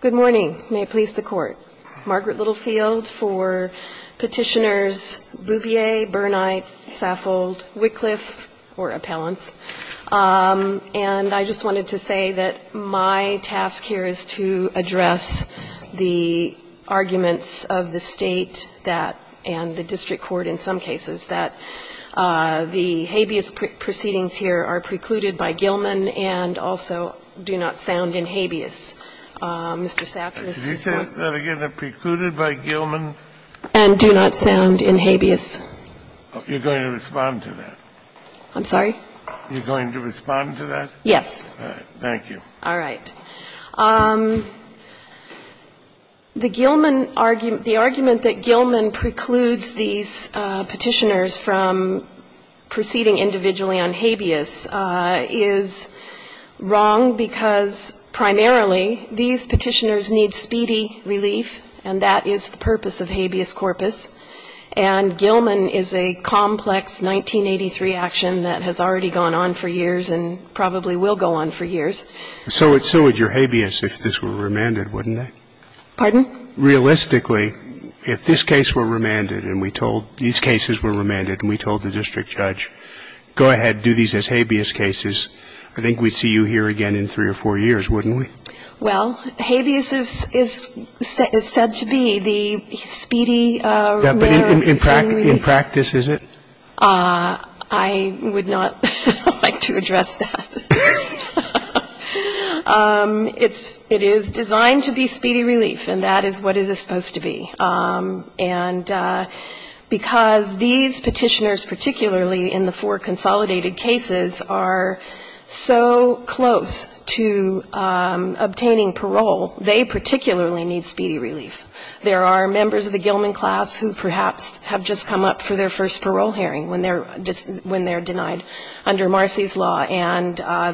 Good morning. May it please the Court. Margaret Littlefield for Petitioners Bubier, Burnite, Saffold, Wycliffe, or Appellants. And I just wanted to say that my task here is to address the arguments of the state that, and the district court in some cases, that the habeas proceedings here are precluded by Gilman and also do not sound in habeas. Mr. Sackler's support. Did you say that again? They're precluded by Gilman? And do not sound in habeas. You're going to respond to that? I'm sorry? You're going to respond to that? Yes. All right. Thank you. All right. The Gilman argument, the argument that Gilman precludes these Petitioners from proceeding individually on habeas is wrong because primarily these Petitioners need speedy relief, and that is the purpose of habeas corpus. And Gilman is a complex 1983 action that has already gone on for years and probably will go on for years. So would your habeas if this were remanded, wouldn't it? Pardon? Realistically, if this case were remanded and we told, these cases were remanded and we told the district judge, go ahead, do these as habeas cases, I think we'd see you here again in three or four years, wouldn't we? Well, habeas is said to be the speedy relief. In practice, is it? I would not like to address that. It is designed to be speedy relief, and that is what it is supposed to be. And because these Petitioners particularly in the four consolidated cases are so close to obtaining parole, they particularly need speedy relief. There are members of the Gilman class who perhaps have just come up for their first trial, and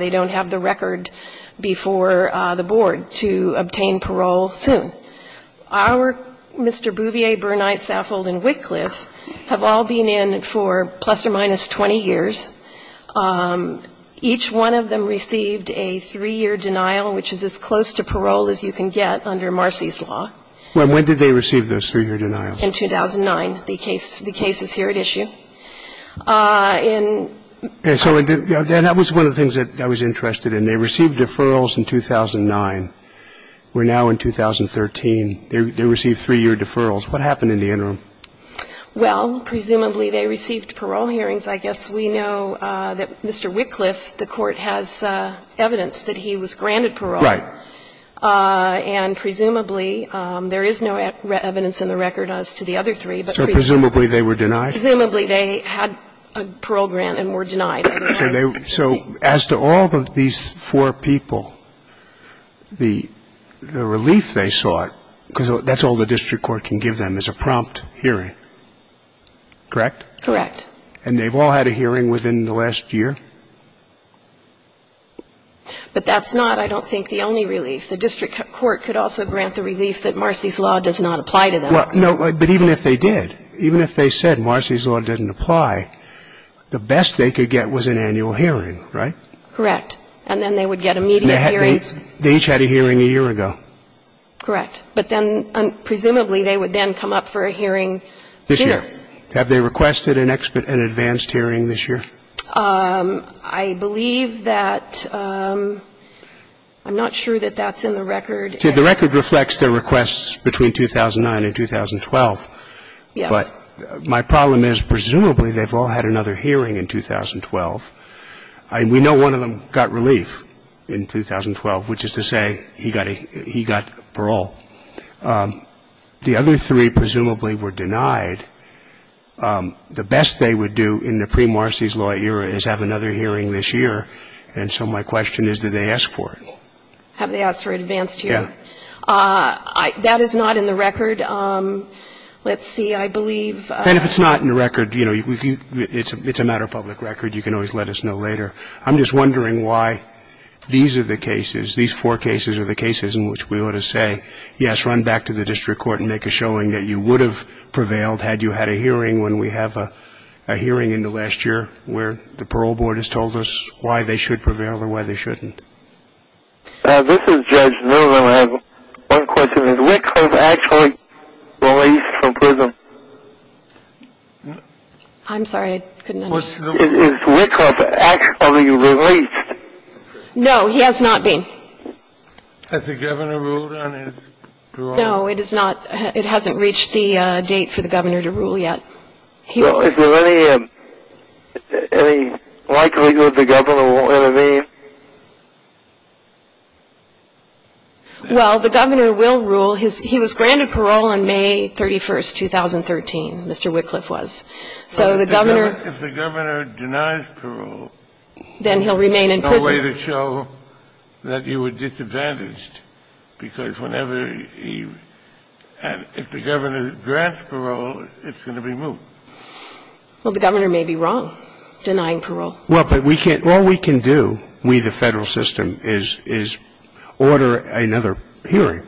they don't have the record before the board to obtain parole soon. Our Mr. Bouvier, Berknight, Saffold and Wickliffe have all been in for plus or minus 20 years. Each one of them received a three-year denial, which is as close to parole as you can get under Marcy's law. And when did they receive those three-year denials? In 2009, the cases here at issue. And so that was one of the things that I was interested in. They received deferrals in 2009. We're now in 2013. They received three-year deferrals. What happened in the interim? Well, presumably they received parole hearings, I guess. We know that Mr. Wickliffe, the Court has evidence that he was granted parole. Right. And presumably there is no evidence in the record as to the other three. So presumably they were denied? Presumably they had a parole grant and were denied otherwise. So as to all of these four people, the relief they sought, because that's all the district court can give them, is a prompt hearing, correct? Correct. And they've all had a hearing within the last year? But that's not, I don't think, the only relief. The district court could also grant the relief that Marcy's law does not apply to them. Well, no, but even if they did, even if they said Marcy's law didn't apply, the best they could get was an annual hearing, right? Correct. And then they would get immediate hearings. They each had a hearing a year ago. Correct. But then presumably they would then come up for a hearing soon. This year. Have they requested an advanced hearing this year? I believe that I'm not sure that that's in the record. See, the record reflects their requests between 2009 and 2012. Yes. But my problem is presumably they've all had another hearing in 2012. We know one of them got relief in 2012, which is to say he got parole. The other three presumably were denied. The best they would do in the pre-Marcy's law era is have another hearing this year, and so my question is, did they ask for it? Have they asked for an advanced hearing? Yeah. That is not in the record. Let's see. I believe. And if it's not in the record, you know, it's a matter of public record. You can always let us know later. I'm just wondering why these are the cases, these four cases are the cases in which we ought to say, yes, run back to the district court and make a showing that you would have prevailed had you had a hearing when we have a hearing in the last year where the parole board has told us why they should prevail and why they shouldn't. This is Judge Miller. I have one question. Is Wickhoff actually released from prison? I'm sorry. I couldn't understand. Is Wickhoff actually released? No, he has not been. Has the governor ruled on his parole? No, it is not. It hasn't reached the date for the governor to rule yet. Is there any likelihood the governor will intervene? Well, the governor will rule. He was granted parole on May 31st, 2013, Mr. Wickhoff was. So the governor. If the governor denies parole. Then he'll remain in prison. No way to show that you were disadvantaged because whenever he, and if the governor grants parole, it's going to be moved. Well, the governor may be wrong denying parole. Well, but we can't. All we can do, we the Federal system, is order another hearing.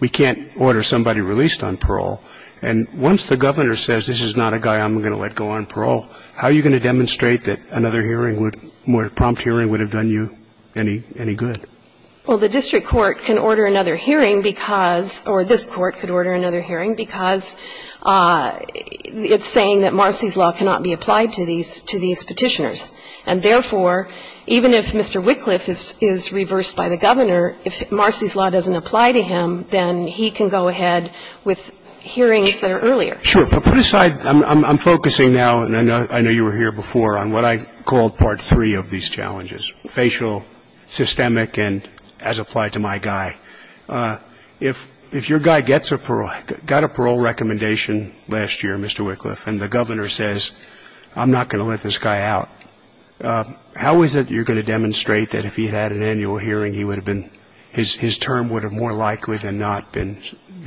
We can't order somebody released on parole. And once the governor says this is not a guy I'm going to let go on parole, how are you going to demonstrate that another hearing would, more prompt hearing would have done you any good? Well, the district court can order another hearing because, or this court could order another hearing because it's saying that Marcy's law cannot be applied to these petitioners. And therefore, even if Mr. Wickliffe is reversed by the governor, if Marcy's law doesn't apply to him, then he can go ahead with hearings that are earlier. Sure. But put aside, I'm focusing now, and I know you were here before, on what I called part three of these challenges, facial, systemic, and as applied to my guy. If your guy gets a parole, got a parole recommendation last year, Mr. Wickliffe, and the governor says, I'm not going to let this guy out, how is it you're going to demonstrate that if he had an annual hearing, he would have been, his term would have more likely than not been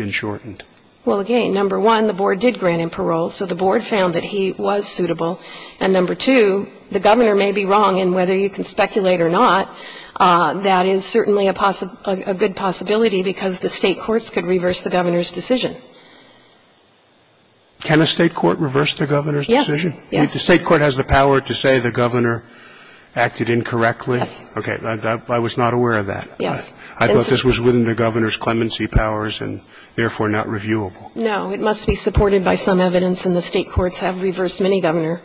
shortened? Well, again, number one, the board did grant him parole, so the board found that he was suitable. And number two, the governor may be wrong. And whether you can speculate or not, that is certainly a good possibility because the State courts could reverse the governor's decision. Can a State court reverse the governor's decision? Yes. Yes. The State court has the power to say the governor acted incorrectly? Yes. Okay. I was not aware of that. Yes. I thought this was within the governor's clemency powers and therefore not reviewable. No. It must be supported by some evidence and the State courts have reversed many governor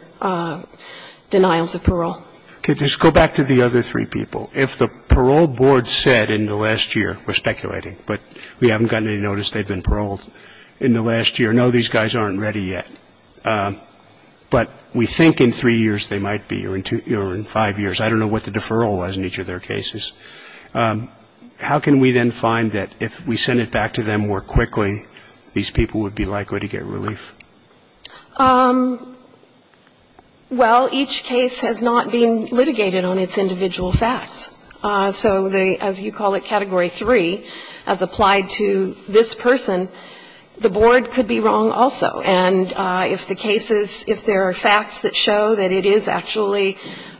denials of parole. Okay. Let's go back to the other three people. If the parole board said in the last year, we're speculating, but we haven't gotten any notice they've been paroled in the last year, no, these guys aren't ready yet, but we think in three years they might be or in five years. I don't know what the deferral was in each of their cases. How can we then find that if we send it back to them more quickly, these people would be likely to get relief? Well, each case has not been litigated on its individual facts. So the, as you call it, Category 3, as applied to this person, the board could be wrong also. And if the cases, if there are facts that show that it is actually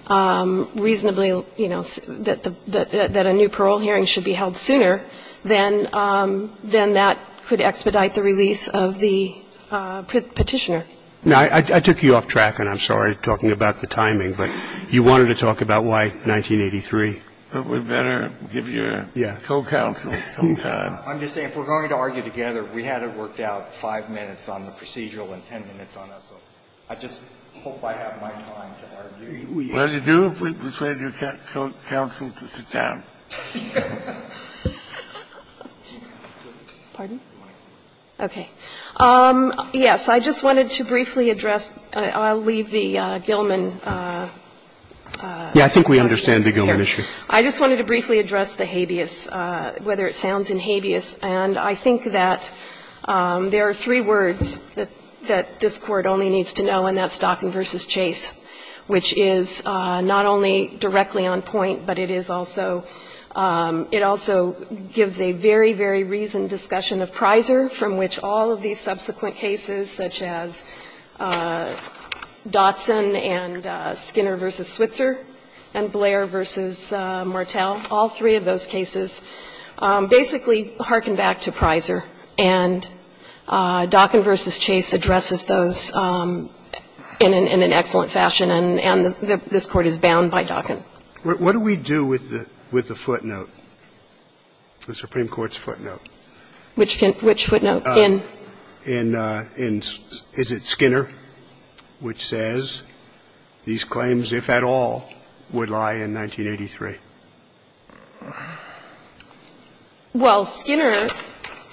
reasonably, you know, that a new parole hearing should be held sooner, then that could expedite the release of the Petitioner. Now, I took you off track, and I'm sorry, talking about the timing. But you wanted to talk about why 1983. But we better give your co-counsel some time. I'm just saying, if we're going to argue together, we had it worked out five minutes on the procedural and ten minutes on us. I just hope I have my time to argue. Well, you do if we persuade your co-counsel to sit down. Pardon? Okay. Yes, I just wanted to briefly address. I'll leave the Gilman. Yeah, I think we understand the Gilman issue. I just wanted to briefly address the habeas, whether it sounds in habeas. And I think that there are three words that this Court only needs to know, and that's It also gives a very, very reasoned discussion of Prysor, from which all of these subsequent cases, such as Dotson and Skinner v. Switzer and Blair v. Martel, all three of those cases basically hearken back to Prysor. And Dockin v. Chase addresses those in an excellent fashion, and this Court is bound by Dockin. What do we do with the footnote, the Supreme Court's footnote? Which footnote? Is it Skinner, which says these claims, if at all, would lie in 1983? Well, Skinner.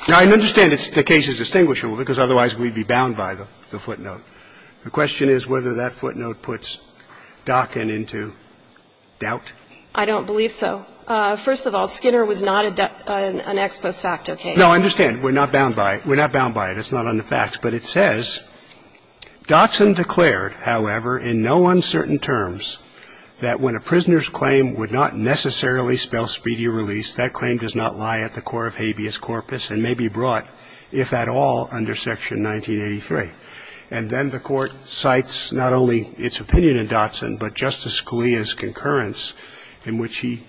I understand the case is distinguishable, because otherwise we'd be bound by the footnote. The question is whether that footnote puts Dockin into doubt. I don't believe so. First of all, Skinner was not an ex post facto case. No, I understand. We're not bound by it. We're not bound by it. It's not on the facts. But it says, Dotson declared, however, in no uncertain terms, that when a prisoner's claim would not necessarily spell speedy release, that claim does not lie at the core of habeas corpus and may be brought, if at all, under Section 1983. And then the Court cites not only its opinion in Dotson, but Justice Scalia's concurrence in which he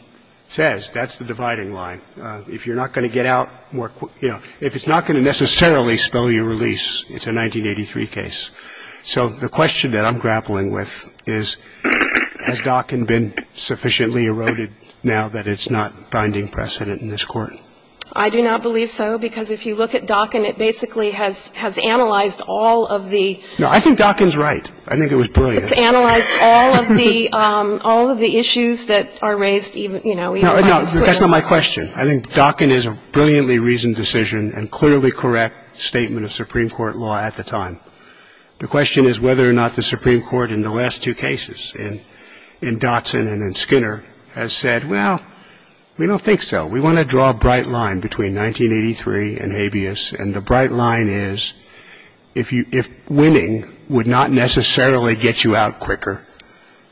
says that's the dividing line. If you're not going to get out more quickly, you know, if it's not going to necessarily spell your release, it's a 1983 case. So the question that I'm grappling with is, has Dockin been sufficiently eroded now that it's not binding precedent in this Court? I do not believe so, because if you look at Dockin, it basically has analyzed all of the ‑‑ No, I think Dockin's right. I think it was brilliant. It's analyzed all of the issues that are raised, you know, even by the school. No, that's not my question. I think Dockin is a brilliantly reasoned decision and clearly correct statement of Supreme Court law at the time. The question is whether or not the Supreme Court in the last two cases, in Dotson and in Skinner, has said, well, we don't think so. We want to draw a bright line between 1983 and habeas, and the bright line is, if winning would not necessarily get you out quicker,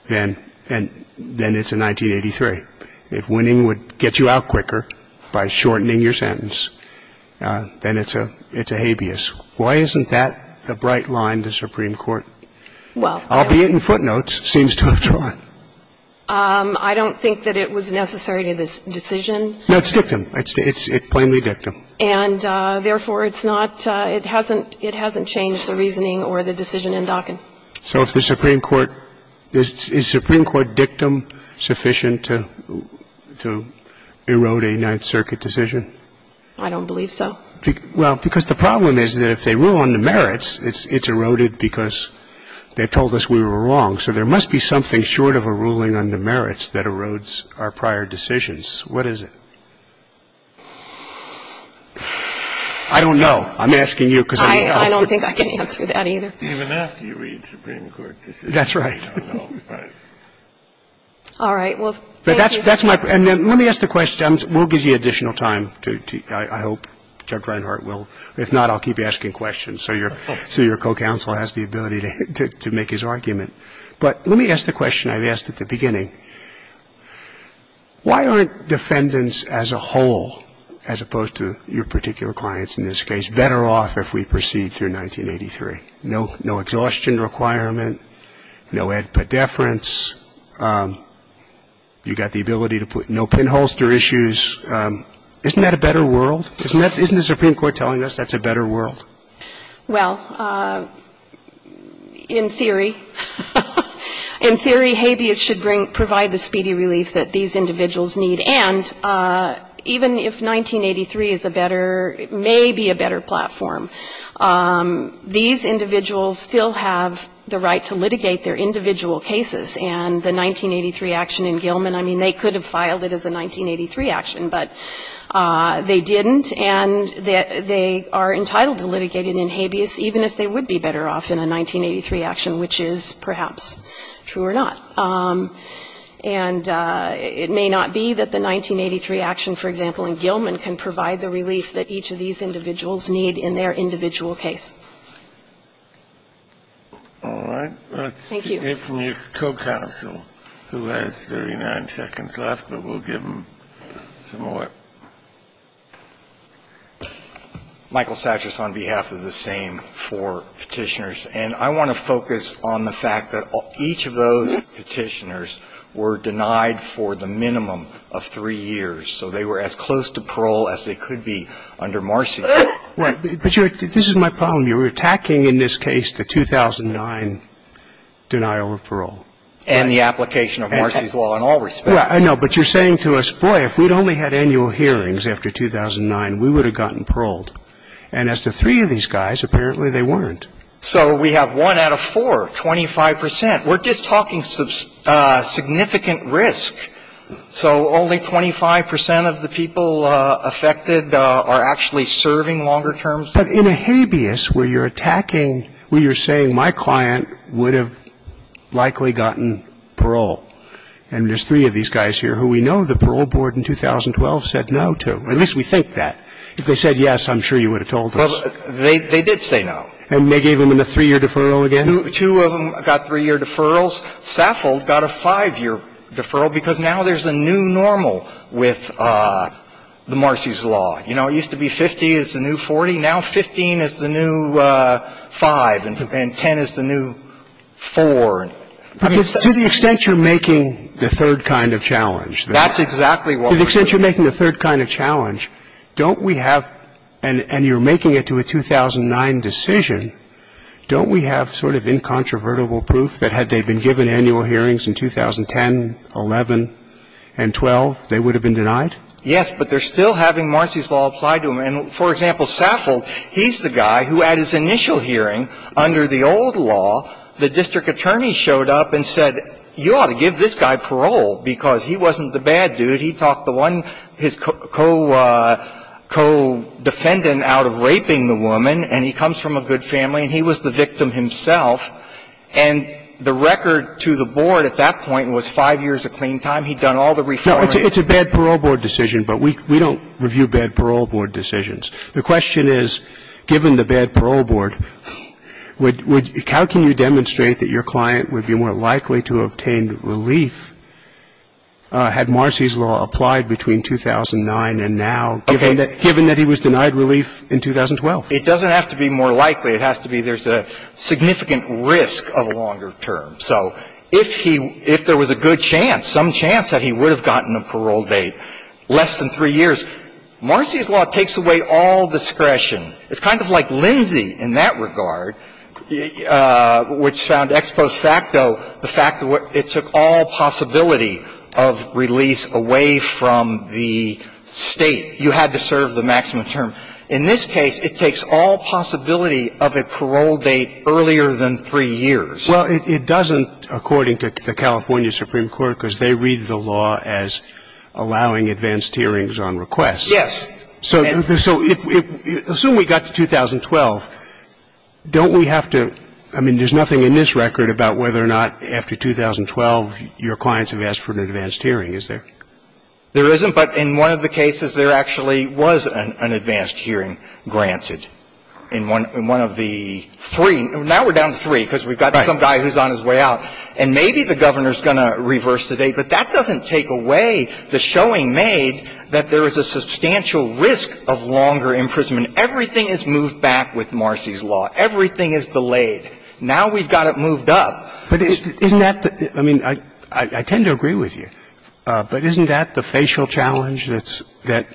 then it's a 1983. If winning would get you out quicker by shortening your sentence, then it's a habeas. Why isn't that the bright line to Supreme Court? Well ‑‑ Albeit in footnotes, seems to have drawn. I don't think that it was necessary to this decision. No, it's dictum. It's plainly dictum. And therefore, it's not ‑‑ it hasn't changed the reasoning or the decision in Dockin. So if the Supreme Court ‑‑ is Supreme Court dictum sufficient to erode a Ninth Circuit decision? I don't believe so. Well, because the problem is that if they rule on the merits, it's eroded because they told us we were wrong. So there must be something short of a ruling on the merits that erodes our prior decisions. What is it? I don't know. I'm asking you because I don't know. I don't think I can answer that either. Even after you read Supreme Court decisions, you don't know. That's right. All right. Well, thank you. That's my ‑‑ and let me ask the question. We'll give you additional time, I hope. Judge Reinhart will. If not, I'll keep asking questions so your co‑counsel has the ability to make his argument. But let me ask the question I've asked at the beginning. Why aren't defendants as a whole, as opposed to your particular clients in this case, better off if we proceed through 1983? No exhaustion requirement. No head pedeference. You've got the ability to put ‑‑ no pinholster issues. Isn't that a better world? Isn't the Supreme Court telling us that's a better world? Well, in theory. In theory, habeas should provide the speedy relief that these individuals need. And even if 1983 is a better ‑‑ may be a better platform, these individuals still have the right to litigate their individual cases. And the 1983 action in Gilman, I mean, they could have filed it as a 1983 action, but they didn't, and they are entitled to litigate it in habeas, even if they would be better off in a 1983 action, which is perhaps true or not. And it may not be that the 1983 action, for example, in Gilman, can provide the relief that each of these individuals need in their individual case. All right. Let's hear from your co‑counsel, who has 39 seconds left, but we'll give him some more. Michael Satchers on behalf of the same four Petitioners. And I want to focus on the fact that each of those Petitioners were denied for the minimum of three years. So they were as close to parole as they could be under Marcy. Right. But this is my problem. You're attacking in this case the 2009 denial of parole. And the application of Marcy's law in all respects. I know. But you're saying to us, boy, if we'd only had annual hearings after 2009, we would have gotten paroled. And as to three of these guys, apparently they weren't. So we have one out of four, 25 percent. We're just talking significant risk. So only 25 percent of the people affected are actually serving longer terms. But in a habeas where you're attacking, where you're saying my client would have likely gotten parole, and there's three of these guys here who we know the parole board in 2012 said no to, at least we think that. If they said yes, I'm sure you would have told us. Well, they did say no. And they gave them a three‑year deferral again? Two of them got three‑year deferrals. Saffold got a five‑year deferral because now there's a new normal with the Marcy's law. You know, it used to be 50 is the new 40. Now 15 is the new 5, and 10 is the new 4. I mean, to the extent you're making the third kind of challenge. That's exactly what we're doing. To the extent you're making the third kind of challenge, don't we have ‑‑ and you're making it to a 2009 decision, don't we have sort of incontrovertible proof that had they been given annual hearings in 2010, 11, and 12, they would have been denied? Yes, but they're still having Marcy's law apply to them. And, for example, Saffold, he's the guy who at his initial hearing, under the old law, the district attorney showed up and said you ought to give this guy parole because he wasn't the bad dude. He talked the one, his co‑defendant out of raping the woman, and he comes from a good family, and he was the victim himself. And the record to the board at that point was five years of clean time. He'd done all the reforming. No, it's a bad parole board decision, but we don't review bad parole board decisions. The question is, given the bad parole board, how can you demonstrate that your client would be more likely to obtain relief had Marcy's law applied between 2009 and now, given that he was denied relief in 2012? It doesn't have to be more likely. It has to be there's a significant risk of a longer term. So if he ‑‑ if there was a good chance, some chance that he would have gotten a parole date less than three years, Marcy's law takes away all discretion. It's kind of like Lindsay in that regard, which found ex post facto the fact that it took all possibility of release away from the State. You had to serve the maximum term. In this case, it takes all possibility of a parole date earlier than three years. Well, it doesn't, according to the California Supreme Court, because they read the law as allowing advanced hearings on request. Yes. So if ‑‑ assume we got to 2012. Don't we have to ‑‑ I mean, there's nothing in this record about whether or not after 2012 your clients have asked for an advanced hearing, is there? There isn't. But in one of the cases, there actually was an advanced hearing granted in one of the three. Now we're down to three because we've got some guy who's on his way out. And maybe the Governor's going to reverse the date. But that doesn't take away the showing made that there is a substantial risk of longer imprisonment. Everything is moved back with Marcy's law. Everything is delayed. Now we've got it moved up. But isn't that the ‑‑ I mean, I tend to agree with you. But isn't that the facial challenge that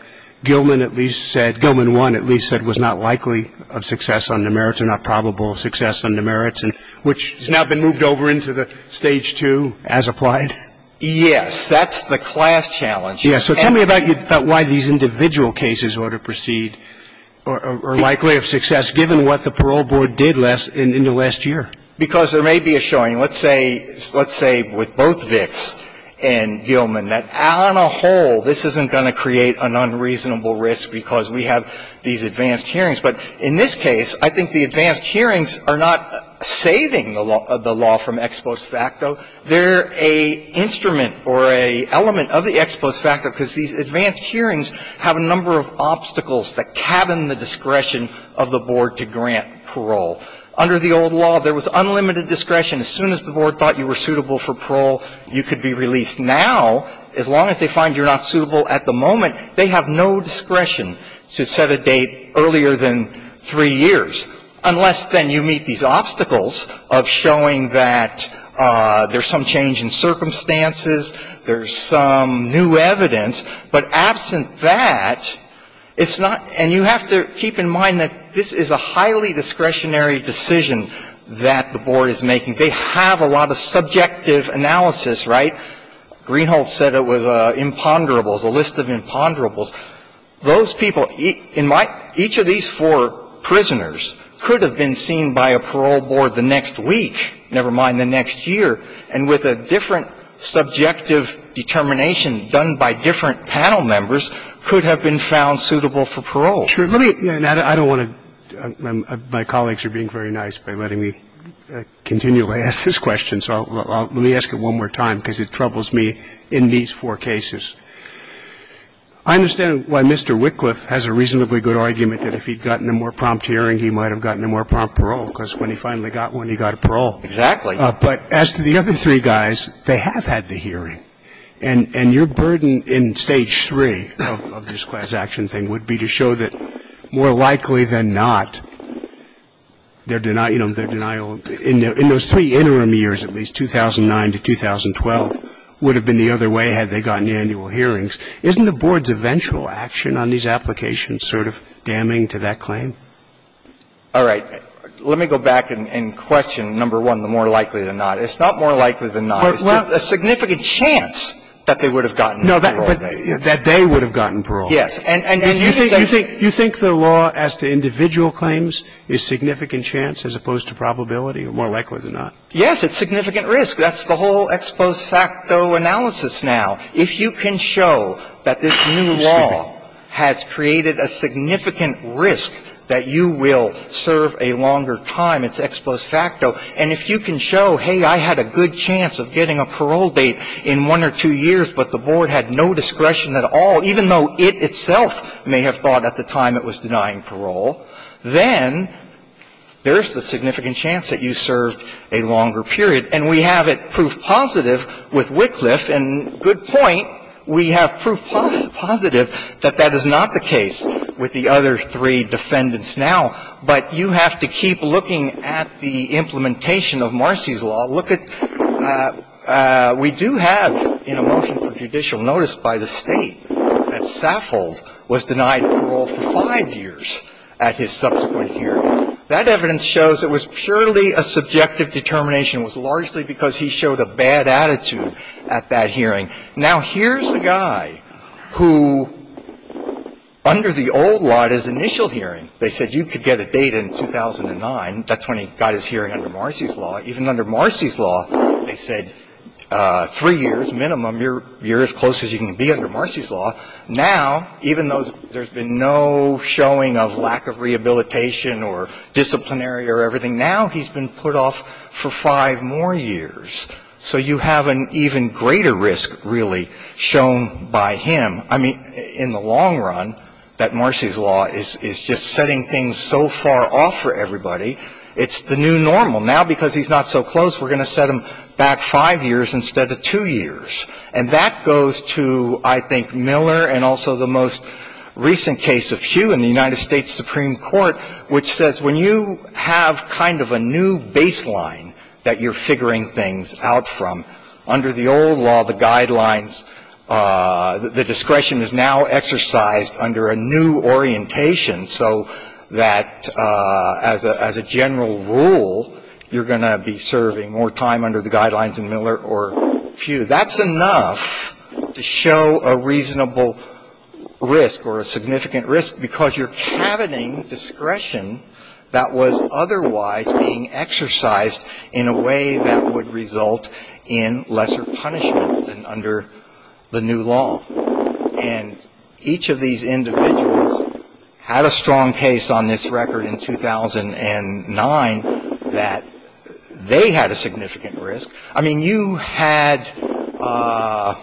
Gilman at least said, Gilman 1 at least said was not likely of success under merits or not probable of success under merits and which has now been moved over into the Stage 2 as applied? Yes. That's the class challenge. Yes. So tell me about why these individual cases ought to proceed or are likely of success given what the parole board did in the last year. Because there may be a showing. Let's say with both Vicks and Gilman that on a whole this isn't going to create an unreasonable risk because we have these advanced hearings. But in this case, I think the advanced hearings are not saving the law from ex post facto. They're an instrument or an element of the ex post facto because these advanced hearings have a number of obstacles that cabin the discretion of the board to grant parole. Under the old law, there was unlimited discretion. As soon as the board thought you were suitable for parole, you could be released. Now, as long as they find you're not suitable at the moment, they have no discretion to set a date earlier than three years, unless then you meet these obstacles of showing that there's some change in circumstances, there's some new evidence. But absent that, it's not ‑‑ and you have to keep in mind that this is a highly discretionary decision that the board is making. They have a lot of subjective analysis, right? Greenhold said it was imponderables, a list of imponderables. Those people, in my ‑‑ each of these four prisoners could have been seen by a parole board the next week, never mind the next year, and with a different subjective determination done by different panel members, could have been found suitable for parole. Let me ‑‑ I don't want to ‑‑ my colleagues are being very nice by letting me continually ask this question, so let me ask it one more time because it troubles me in these four cases. I understand why Mr. Wickliffe has a reasonably good argument that if he had gotten a more prompt hearing, he might have gotten a more prompt parole because when he finally got one, he got a parole. Exactly. But as to the other three guys, they have had the hearing. And your burden in Stage 3 of this class action thing would be to show that more likely than not, their denial ‑‑ in those three interim years, at least, 2009 to 2012, would have been the other way had they gotten annual hearings. Isn't the board's eventual action on these applications sort of damning to that claim? All right. Let me go back and question, number one, the more likely than not. It's not more likely than not. It's just a significant chance that they would have gotten parole. No, that they would have gotten parole. Yes. And you can say ‑‑ You think the law as to individual claims is significant chance as opposed to probability or more likely than not? Yes, it's significant risk. That's the whole ex post facto analysis now. If you can show that this new law has created a significant risk that you will serve a longer time, it's ex post facto. And if you can show, hey, I had a good chance of getting a parole date in one or two years, but the board had no discretion at all, even though it itself may have thought at the time it was denying parole, then there's a significant chance that you served a longer period. And we have it proof positive with Wycliffe, and good point, we have proof positive that that is not the case with the other three defendants now. But you have to keep looking at the implementation of Marcy's law. Look at ‑‑ we do have in a motion for judicial notice by the state that Saffold was denied parole for five years at his subsequent hearing. That evidence shows it was purely a subjective determination. It was largely because he showed a bad attitude at that hearing. Now, here's the guy who under the old law at his initial hearing, they said you could get a date in 2009. That's when he got his hearing under Marcy's law. Even under Marcy's law, they said three years minimum, you're as close as you can be under Marcy's law. Now, even though there's been no showing of lack of rehabilitation or disciplinary or everything, now he's been put off for five more years. So you have an even greater risk, really, shown by him. I mean, in the long run, that Marcy's law is just setting things so far off for everybody, it's the new normal. Now, because he's not so close, we're going to set him back five years instead of two years. And that goes to, I think, Miller and also the most recent case of Hugh in the United States Supreme Court, which says when you have kind of a new baseline that you're discretion is now exercised under a new orientation so that as a general rule, you're going to be serving more time under the guidelines of Miller or Hugh. That's enough to show a reasonable risk or a significant risk because you're caboting discretion that was otherwise being exercised in a way that would result in lesser punishment than under the new law. And each of these individuals had a strong case on this record in 2009 that they had a significant risk. I mean, you had ‑‑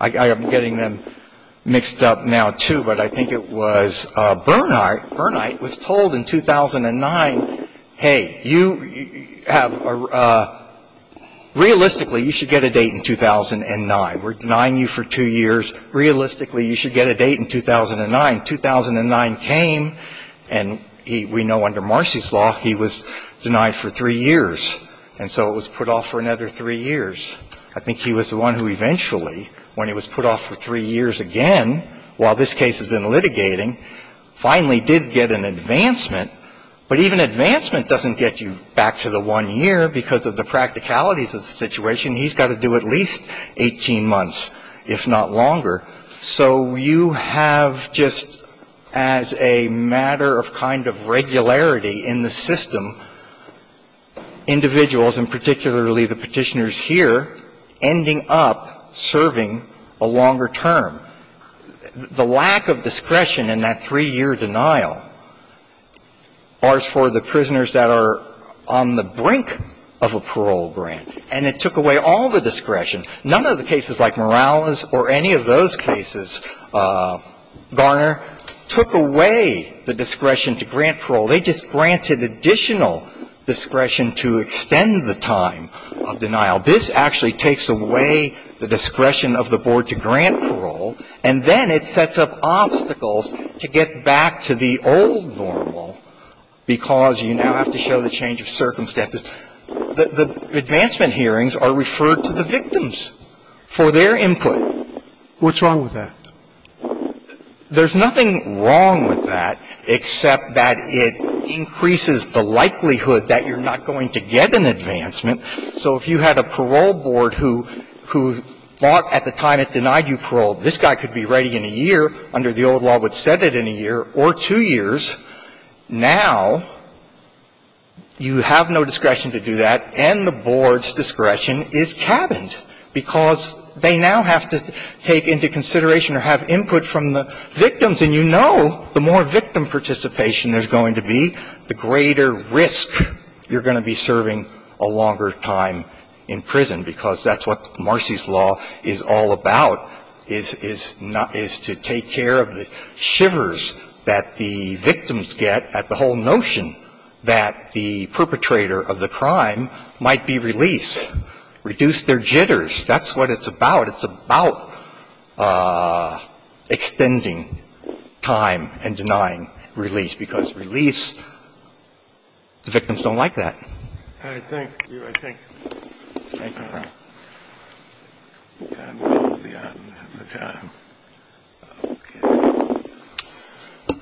I'm getting them mixed up now, too, but I think it was Bernhardt. Bernhardt was told in 2009, hey, you have a ‑‑ realistically, you should get a date now. In 2009. We're denying you for two years. Realistically, you should get a date in 2009. 2009 came, and we know under Marcy's law, he was denied for three years. And so it was put off for another three years. I think he was the one who eventually, when he was put off for three years again, while this case has been litigating, finally did get an advancement. But even advancement doesn't get you back to the one year because of the practicalities of the situation. He's got to do at least 18 months, if not longer. So you have just, as a matter of kind of regularity in the system, individuals, and particularly the Petitioners here, ending up serving a longer term. The lack of discretion in that three‑year denial bars for the prisoners that are on the brink of a parole grant, and it took away all the discretion. None of the cases like Morales or any of those cases, Garner, took away the discretion to grant parole. They just granted additional discretion to extend the time of denial. This actually takes away the discretion of the board to grant parole, and then it sets up obstacles to get back to the old normal because you now have to show the change of circumstances. The advancement hearings are referred to the victims for their input. What's wrong with that? There's nothing wrong with that except that it increases the likelihood that you're not going to get an advancement. So if you had a parole board who thought at the time it denied you parole, this guy could be ready in a year under the old law, would set it in a year or two years. Now, you have no discretion to do that, and the board's discretion is cabined because they now have to take into consideration or have input from the victims, and you know the more victim participation there's going to be, the greater risk you're going to be serving a longer time in prison because that's what Marcy's victims get at the whole notion that the perpetrator of the crime might be released. Reduce their jitters. That's what it's about. It's about extending time and denying release, because release, the victims don't like that. All right. Thank you. I thank you. Thank you, Your Honor.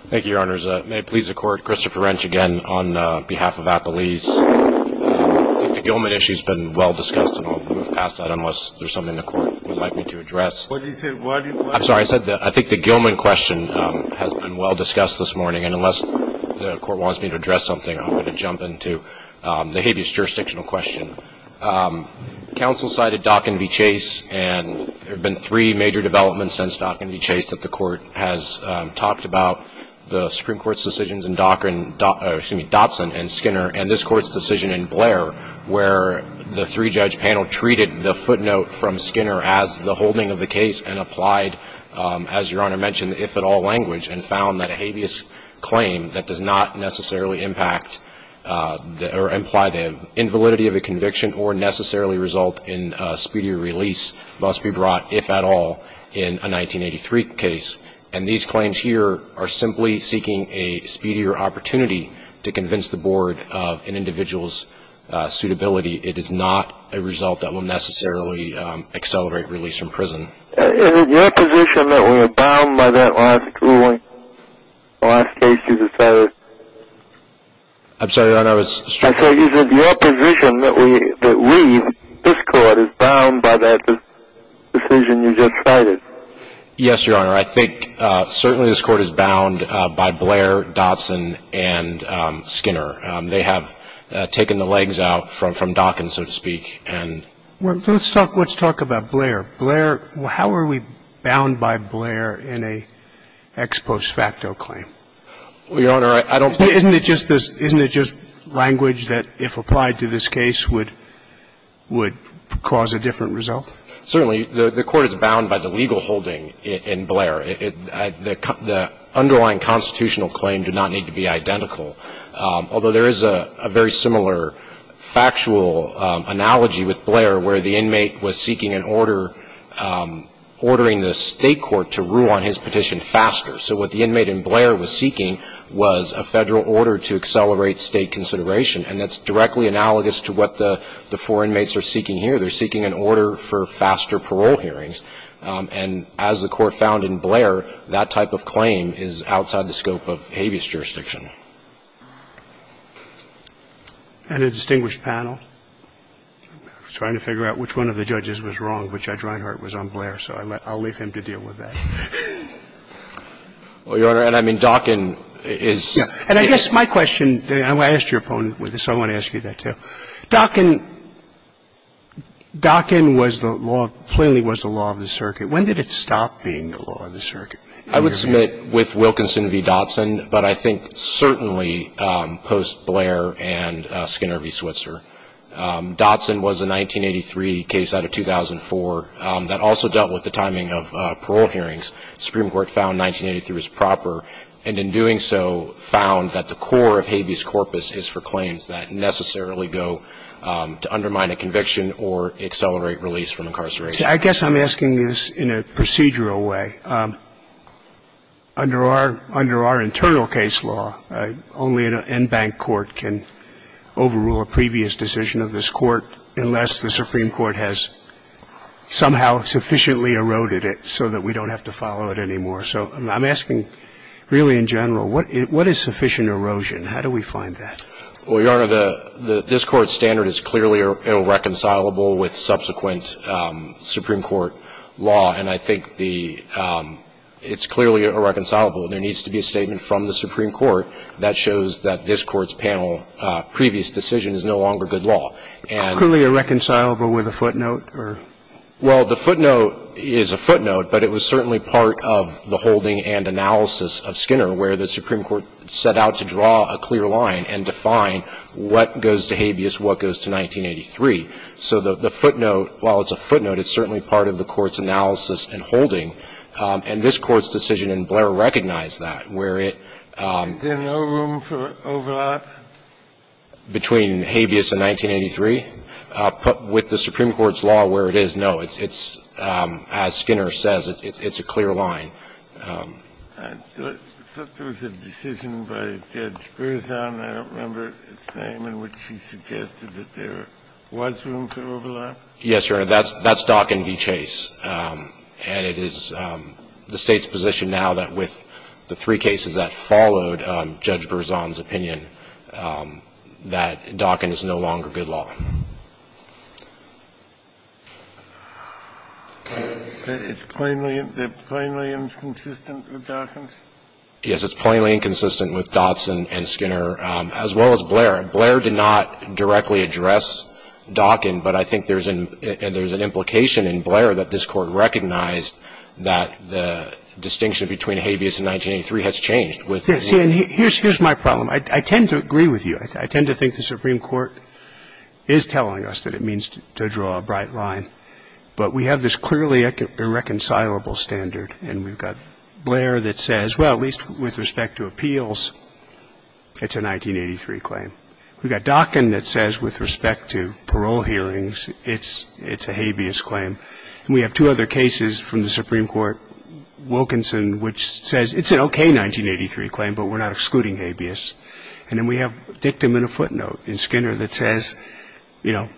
Thank you, Your Honors. May it please the Court, Christopher Wrench again on behalf of Appelese. I think the Gilman issue has been well discussed, and I'll move past that unless there's something the Court would like me to address. What did you say? I'm sorry. I said I think the Gilman question has been well discussed this morning, and unless the Court wants me to address something, I'm going to jump into the habeas jurisdictional question. Counsel cited Dock and V. Chase, and there have been three major developments since Dock and V. Chase that the Court has talked about. The Supreme Court's decisions in Dotson and Skinner and this Court's decision in Blair where the three-judge panel treated the footnote from Skinner as the holding of the case and applied, as Your Honor mentioned, the if-at-all language and found that a conviction that does not necessarily imply the invalidity of a conviction or necessarily result in speedier release must be brought if-at-all in a 1983 case. And these claims here are simply seeking a speedier opportunity to convince the Board of an individual's suitability. It is not a result that will necessarily accelerate release from prison. Is it your position that we are bound by that last ruling, the last case you decided? I'm sorry, Your Honor. I said is it your position that we, this Court, is bound by that decision you just cited? Yes, Your Honor. I think certainly this Court is bound by Blair, Dotson, and Skinner. They have taken the legs out from Dock and, so to speak. Let's talk about Blair. Blair, how are we bound by Blair in an ex post facto claim? Well, Your Honor, I don't think that's the case. Isn't it just this, isn't it just language that, if applied to this case, would cause a different result? Certainly. The Court is bound by the legal holding in Blair. The underlying constitutional claim did not need to be identical, although there is a very similar factual analogy with Blair where the inmate was seeking an order, ordering the State court to rule on his petition faster. So what the inmate in Blair was seeking was a Federal order to accelerate State consideration, and that's directly analogous to what the four inmates are seeking here. They're seeking an order for faster parole hearings. And as the Court found in Blair, that type of claim is outside the scope of habeas jurisdiction. And a distinguished panel. I'm trying to figure out which one of the judges was wrong, but Judge Reinhardt was on Blair, so I'll leave him to deal with that. Well, Your Honor, and I mean Dockin is the case. And I guess my question, and I asked your opponent with this, so I want to ask you that, too. Dockin was the law, plainly was the law of the circuit. When did it stop being the law of the circuit? I would submit with Wilkinson v. Dotson, but I think certainly post-Blair and Skinner v. Switzer. Dotson was a 1983 case out of 2004 that also dealt with the timing of parole hearings. The Supreme Court found 1983 was proper, and in doing so found that the core of habeas corpus is for claims that necessarily go to undermine a conviction or accelerate release from incarceration. I guess I'm asking this in a procedural way. Under our internal case law, only an en banc court can overrule a previous decision of this Court unless the Supreme Court has somehow sufficiently eroded it so that we don't have to follow it anymore. So I'm asking really in general, what is sufficient erosion? How do we find that? Well, Your Honor, this Court's standard is clearly irreconcilable with subsequent Supreme Court law, and I think the — it's clearly irreconcilable. There needs to be a statement from the Supreme Court that shows that this Court's panel, previous decision is no longer good law. And — Clearly irreconcilable with a footnote or — Well, the footnote is a footnote, but it was certainly part of the holding and analysis of Skinner where the Supreme Court set out to draw a clear line and define what goes to habeas, what goes to 1983. So the footnote, while it's a footnote, it's certainly part of the Court's analysis and holding. And this Court's decision in Blair recognized that, where it — Is there no room for overlap? Between habeas and 1983? With the Supreme Court's law where it is, no. It's, as Skinner says, it's a clear line. I thought there was a decision by Judge Berzon. I don't remember its name, in which he suggested that there was room for overlap. Yes, Your Honor. That's Dockin v. Chase. And it is the State's position now that with the three cases that followed Judge Berzon's opinion that Dockin is no longer good law. It's plainly inconsistent with Dockin's? Yes, it's plainly inconsistent with Dotson and Skinner, as well as Blair. Blair did not directly address Dockin, but I think there's an implication in Blair that this Court recognized that the distinction between habeas and 1983 has changed. See, and here's my problem. I tend to agree with you. I tend to think the Supreme Court is telling us that it means to draw a bright line. But we have this clearly irreconcilable standard. And we've got Blair that says, well, at least with respect to appeals, it's a 1983 claim. We've got Dockin that says with respect to parole hearings, it's a habeas claim. And we have two other cases from the Supreme Court, Wilkinson, which says it's an okay 1983 claim, but we're not excluding habeas. And then we have Dictum and a footnote in Skinner that says, you know,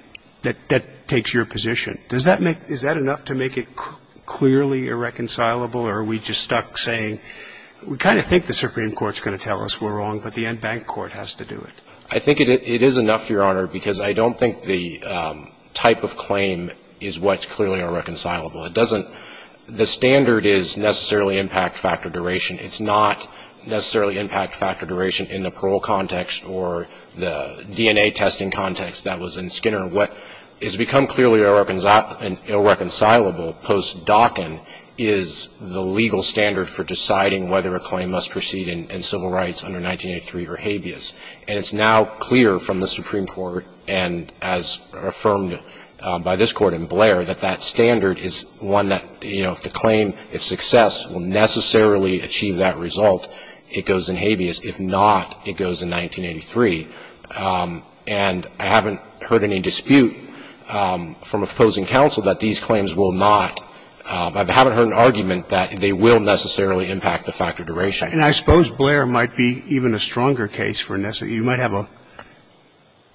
that that takes your position. Does that make — is that enough to make it clearly irreconcilable, or are we just stuck saying we kind of think the Supreme Court's going to tell us we're wrong, but the en banc court has to do it? I think it is enough, Your Honor, because I don't think the type of claim is what's clearly irreconcilable. It doesn't — the standard is necessarily impact factor duration. It's not necessarily impact factor duration in the parole context or the DNA testing context that was in Skinner. What has become clearly irreconcilable post-Dockin is the legal standard for deciding whether a claim must proceed in civil rights under 1983 or habeas. And it's now clear from the Supreme Court, and as affirmed by this Court in Blair, that that standard is one that, you know, if the claim, if success, will necessarily achieve that result, it goes in habeas. If not, it goes in 1983. And I haven't heard any dispute from opposing counsel that these claims will not — I haven't heard an argument that they will necessarily impact the factor duration. And I suppose Blair might be even a stronger case for — you might have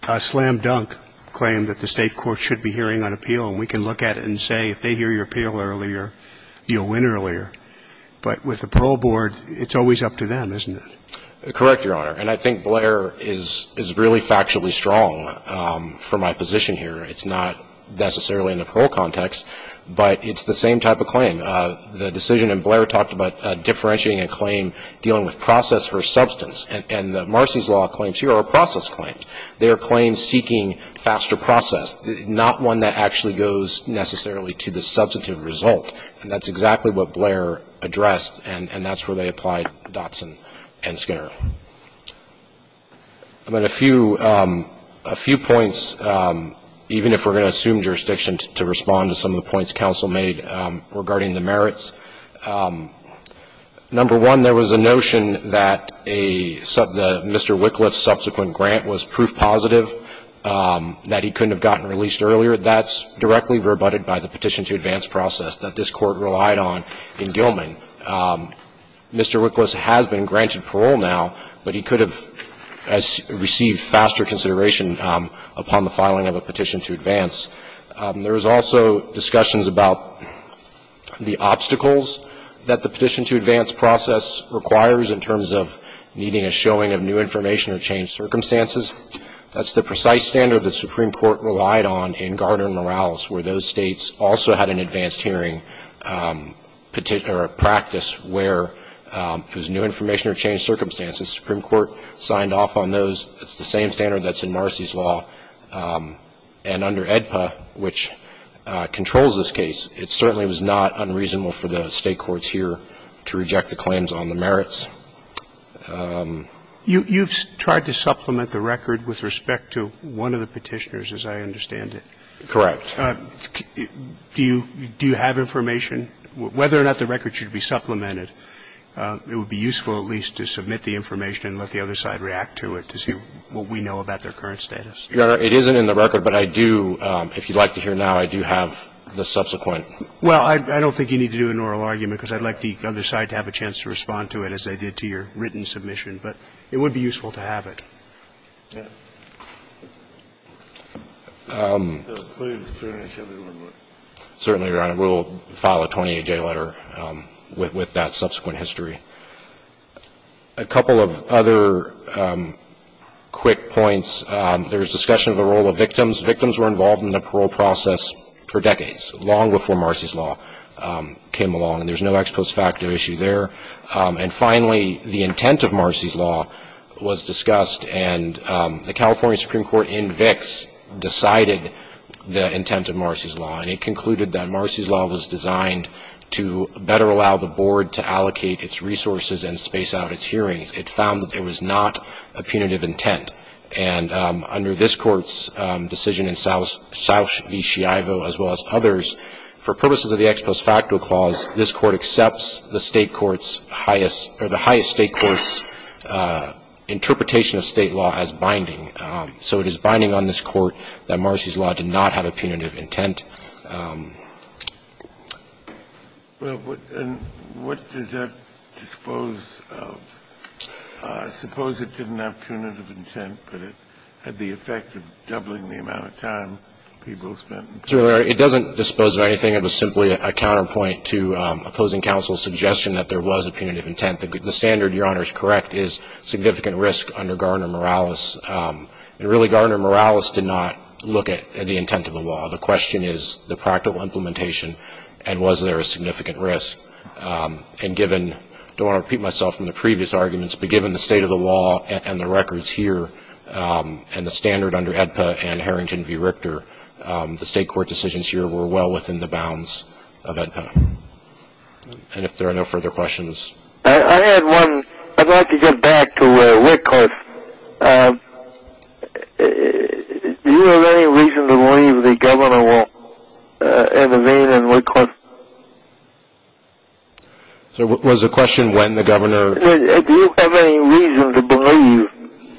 a slam-dunk claim that the State court should be hearing on appeal, and we can look at it and say if they hear your appeal earlier, you'll win earlier. But with the parole board, it's always up to them, isn't it? Correct, Your Honor. And I think Blair is really factually strong for my position here. It's not necessarily in the parole context, but it's the same type of claim. The decision in Blair talked about differentiating a claim, dealing with process versus substance. And Marcy's Law claims here are process claims. They are claims seeking faster process, not one that actually goes necessarily to the substantive result. And that's exactly what Blair addressed, and that's where they applied Dotson and Skinner. I mean, a few — a few points, even if we're going to assume jurisdiction to respond to some of the points counsel made regarding the merits. Number one, there was a notion that a — Mr. Wickliffe's subsequent grant was proof positive that he couldn't have gotten released earlier. That's directly rebutted by the petition to advance process that this Court relied on in Gilman. Mr. Wickliffe's has been granted parole now, but he could have received faster consideration upon the filing of a petition to advance. There was also discussions about the obstacles that the petition to advance process requires in terms of needing a showing of new information or changed circumstances. That's the precise standard the Supreme Court relied on in Gardner and Morales, where those states also had an advanced hearing or a practice where it was new information or changed circumstances. The Supreme Court signed off on those. It's the same standard that's in Marcy's law. And under AEDPA, which controls this case, it certainly was not unreasonable for the State courts here to reject the claims on the merits. You've tried to supplement the record with respect to one of the petitioners, as I understand it. Do you have information? Whether or not the record should be supplemented, it would be useful at least to submit the information and let the other side react to it to see what we know about their current status. It isn't in the record, but I do, if you'd like to hear now, I do have the subsequent. Well, I don't think you need to do an oral argument, because I'd like the other side to have a chance to respond to it, as they did to your written submission. But it would be useful to have it. Certainly, Your Honor. We will file a 28-J letter with that subsequent history. A couple of other quick points. There's discussion of the role of victims. Victims were involved in the parole process for decades, long before Marcy's law came along. And there's no ex post facto issue there. And finally, the intent of Marcy's law was discussed. And the California Supreme Court in Vicks decided the intent of Marcy's law. And it concluded that Marcy's law was designed to better allow the board to allocate its resources and space out its hearings. It found that there was not a punitive intent. And under this Court's decision in Southeast Chiavo, as well as others, for purposes of the ex post facto clause, this Court accepts the State court's highest or the highest State court's interpretation of State law as binding. So it is binding on this Court that Marcy's law did not have a punitive intent. And what does that dispose of? Suppose it didn't have punitive intent, but it had the effect of doubling the amount of time people spent in court. It doesn't dispose of anything. It was simply a counterpoint to opposing counsel's suggestion that there was a punitive intent. The standard, Your Honor, is correct, is significant risk under Gardner-Morales. And really, Gardner-Morales did not look at the intent of the law. The question is the practical implementation and was there a significant risk. And given, I don't want to repeat myself from the previous arguments, but given the state of the law and the records here and the standard under AEDPA and Harrington v. Richter, the State court decisions here were well within the bounds of AEDPA. And if there are no further questions. I had one. I'd like to get back to Whitcliffe. Do you have any reason to believe the Governor will intervene in Whitcliffe? Was the question when the Governor? Do you have any reason to believe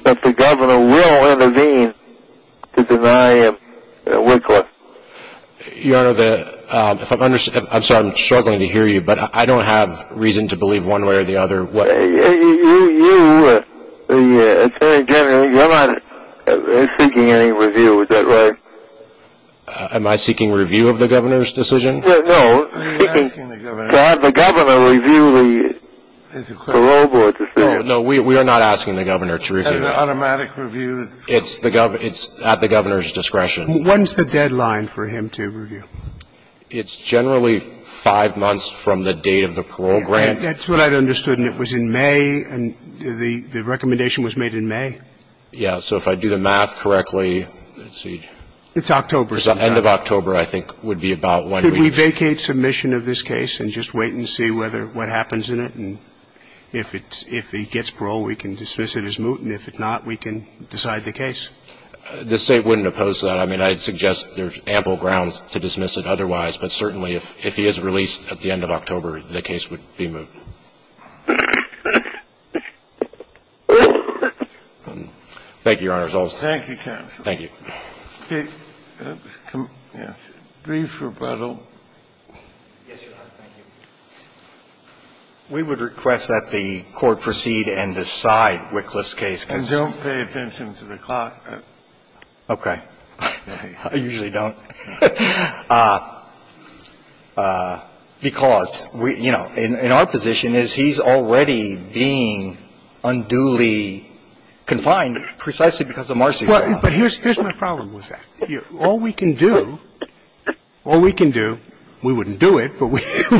that the Governor will intervene to deny Whitcliffe? Your Honor, I'm sorry, I'm struggling to hear you, but I don't have reason to believe one way or the other. You, Attorney General, you're not seeking any review, is that right? Am I seeking review of the Governor's decision? No, we are not asking the Governor to review it. It's at the Governor's discretion. When's the deadline for him to review? It's generally five months from the date of the parole grant. That's what I understood, and it was in May, and the recommendation was made in May. Yes. So if I do the math correctly, let's see. It's October. The Governor's end of October, I think, would be about when we would. Could we vacate submission of this case and just wait and see whether what happens in it, and if it's – if he gets parole, we can dismiss it as moot, and if it's not, we can decide the case? The State wouldn't oppose that. I mean, I'd suggest there's ample grounds to dismiss it otherwise, but certainly if he is released at the end of October, the case would be moot. Thank you, Your Honor. Thank you, counsel. Yes. Brief rebuttal. Yes, Your Honor. Thank you. We would request that the Court proceed and decide Wycliffe's case. And don't pay attention to the clock. Okay. I usually don't. Because, you know, in our position is he's already being unduly confined precisely because of Marcy's law. But here's my problem with that. All we can do – all we can do – we wouldn't do it, but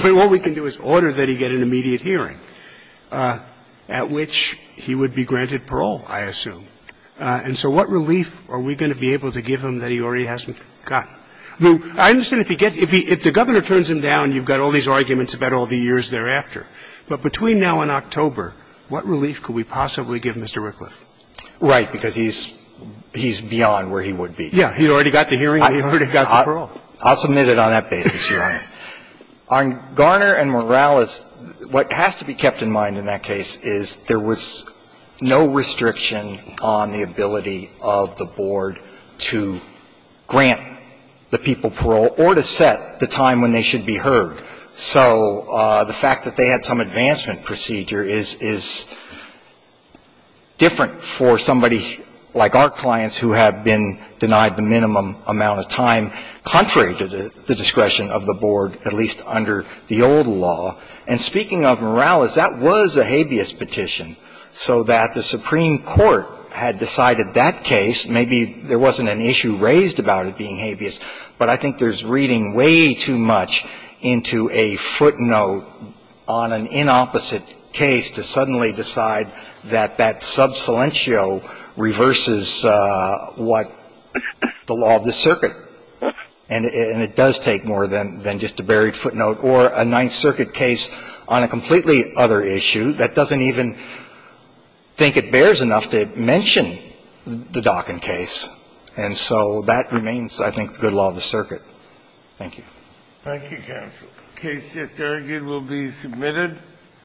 all we can do is order that he get an immediate hearing at which he would be granted parole, I assume. And so what relief are we going to be able to give him that he already hasn't got? I understand if he gets – if the Governor turns him down, you've got all these arguments about all the years thereafter. But between now and October, what relief could we possibly give Mr. Wycliffe? Right. Because he's beyond where he would be. Yeah. He already got the hearing. He already got the parole. I'll submit it on that basis, Your Honor. On Garner and Morales, what has to be kept in mind in that case is there was no restriction on the ability of the board to grant the people parole or to set the time when they should be heard. So the fact that they had some advancement procedure is different for somebody like our clients who have been denied the minimum amount of time, contrary to the discretion of the board, at least under the old law. And speaking of Morales, that was a habeas petition, so that the Supreme Court had decided that case. Maybe there wasn't an issue raised about it being habeas, but I think there's something about the fact that the Supreme Court was reading way too much into a footnote on an inopposite case to suddenly decide that that sub silencio reverses what the law of the circuit, and it does take more than just a buried footnote, or a Ninth Circuit case on a completely other issue that doesn't even think it bears enough to mention the Dockin case. And so that remains, I think, the good law of the circuit. Thank you. Thank you, counsel. The case just argued will be submitted.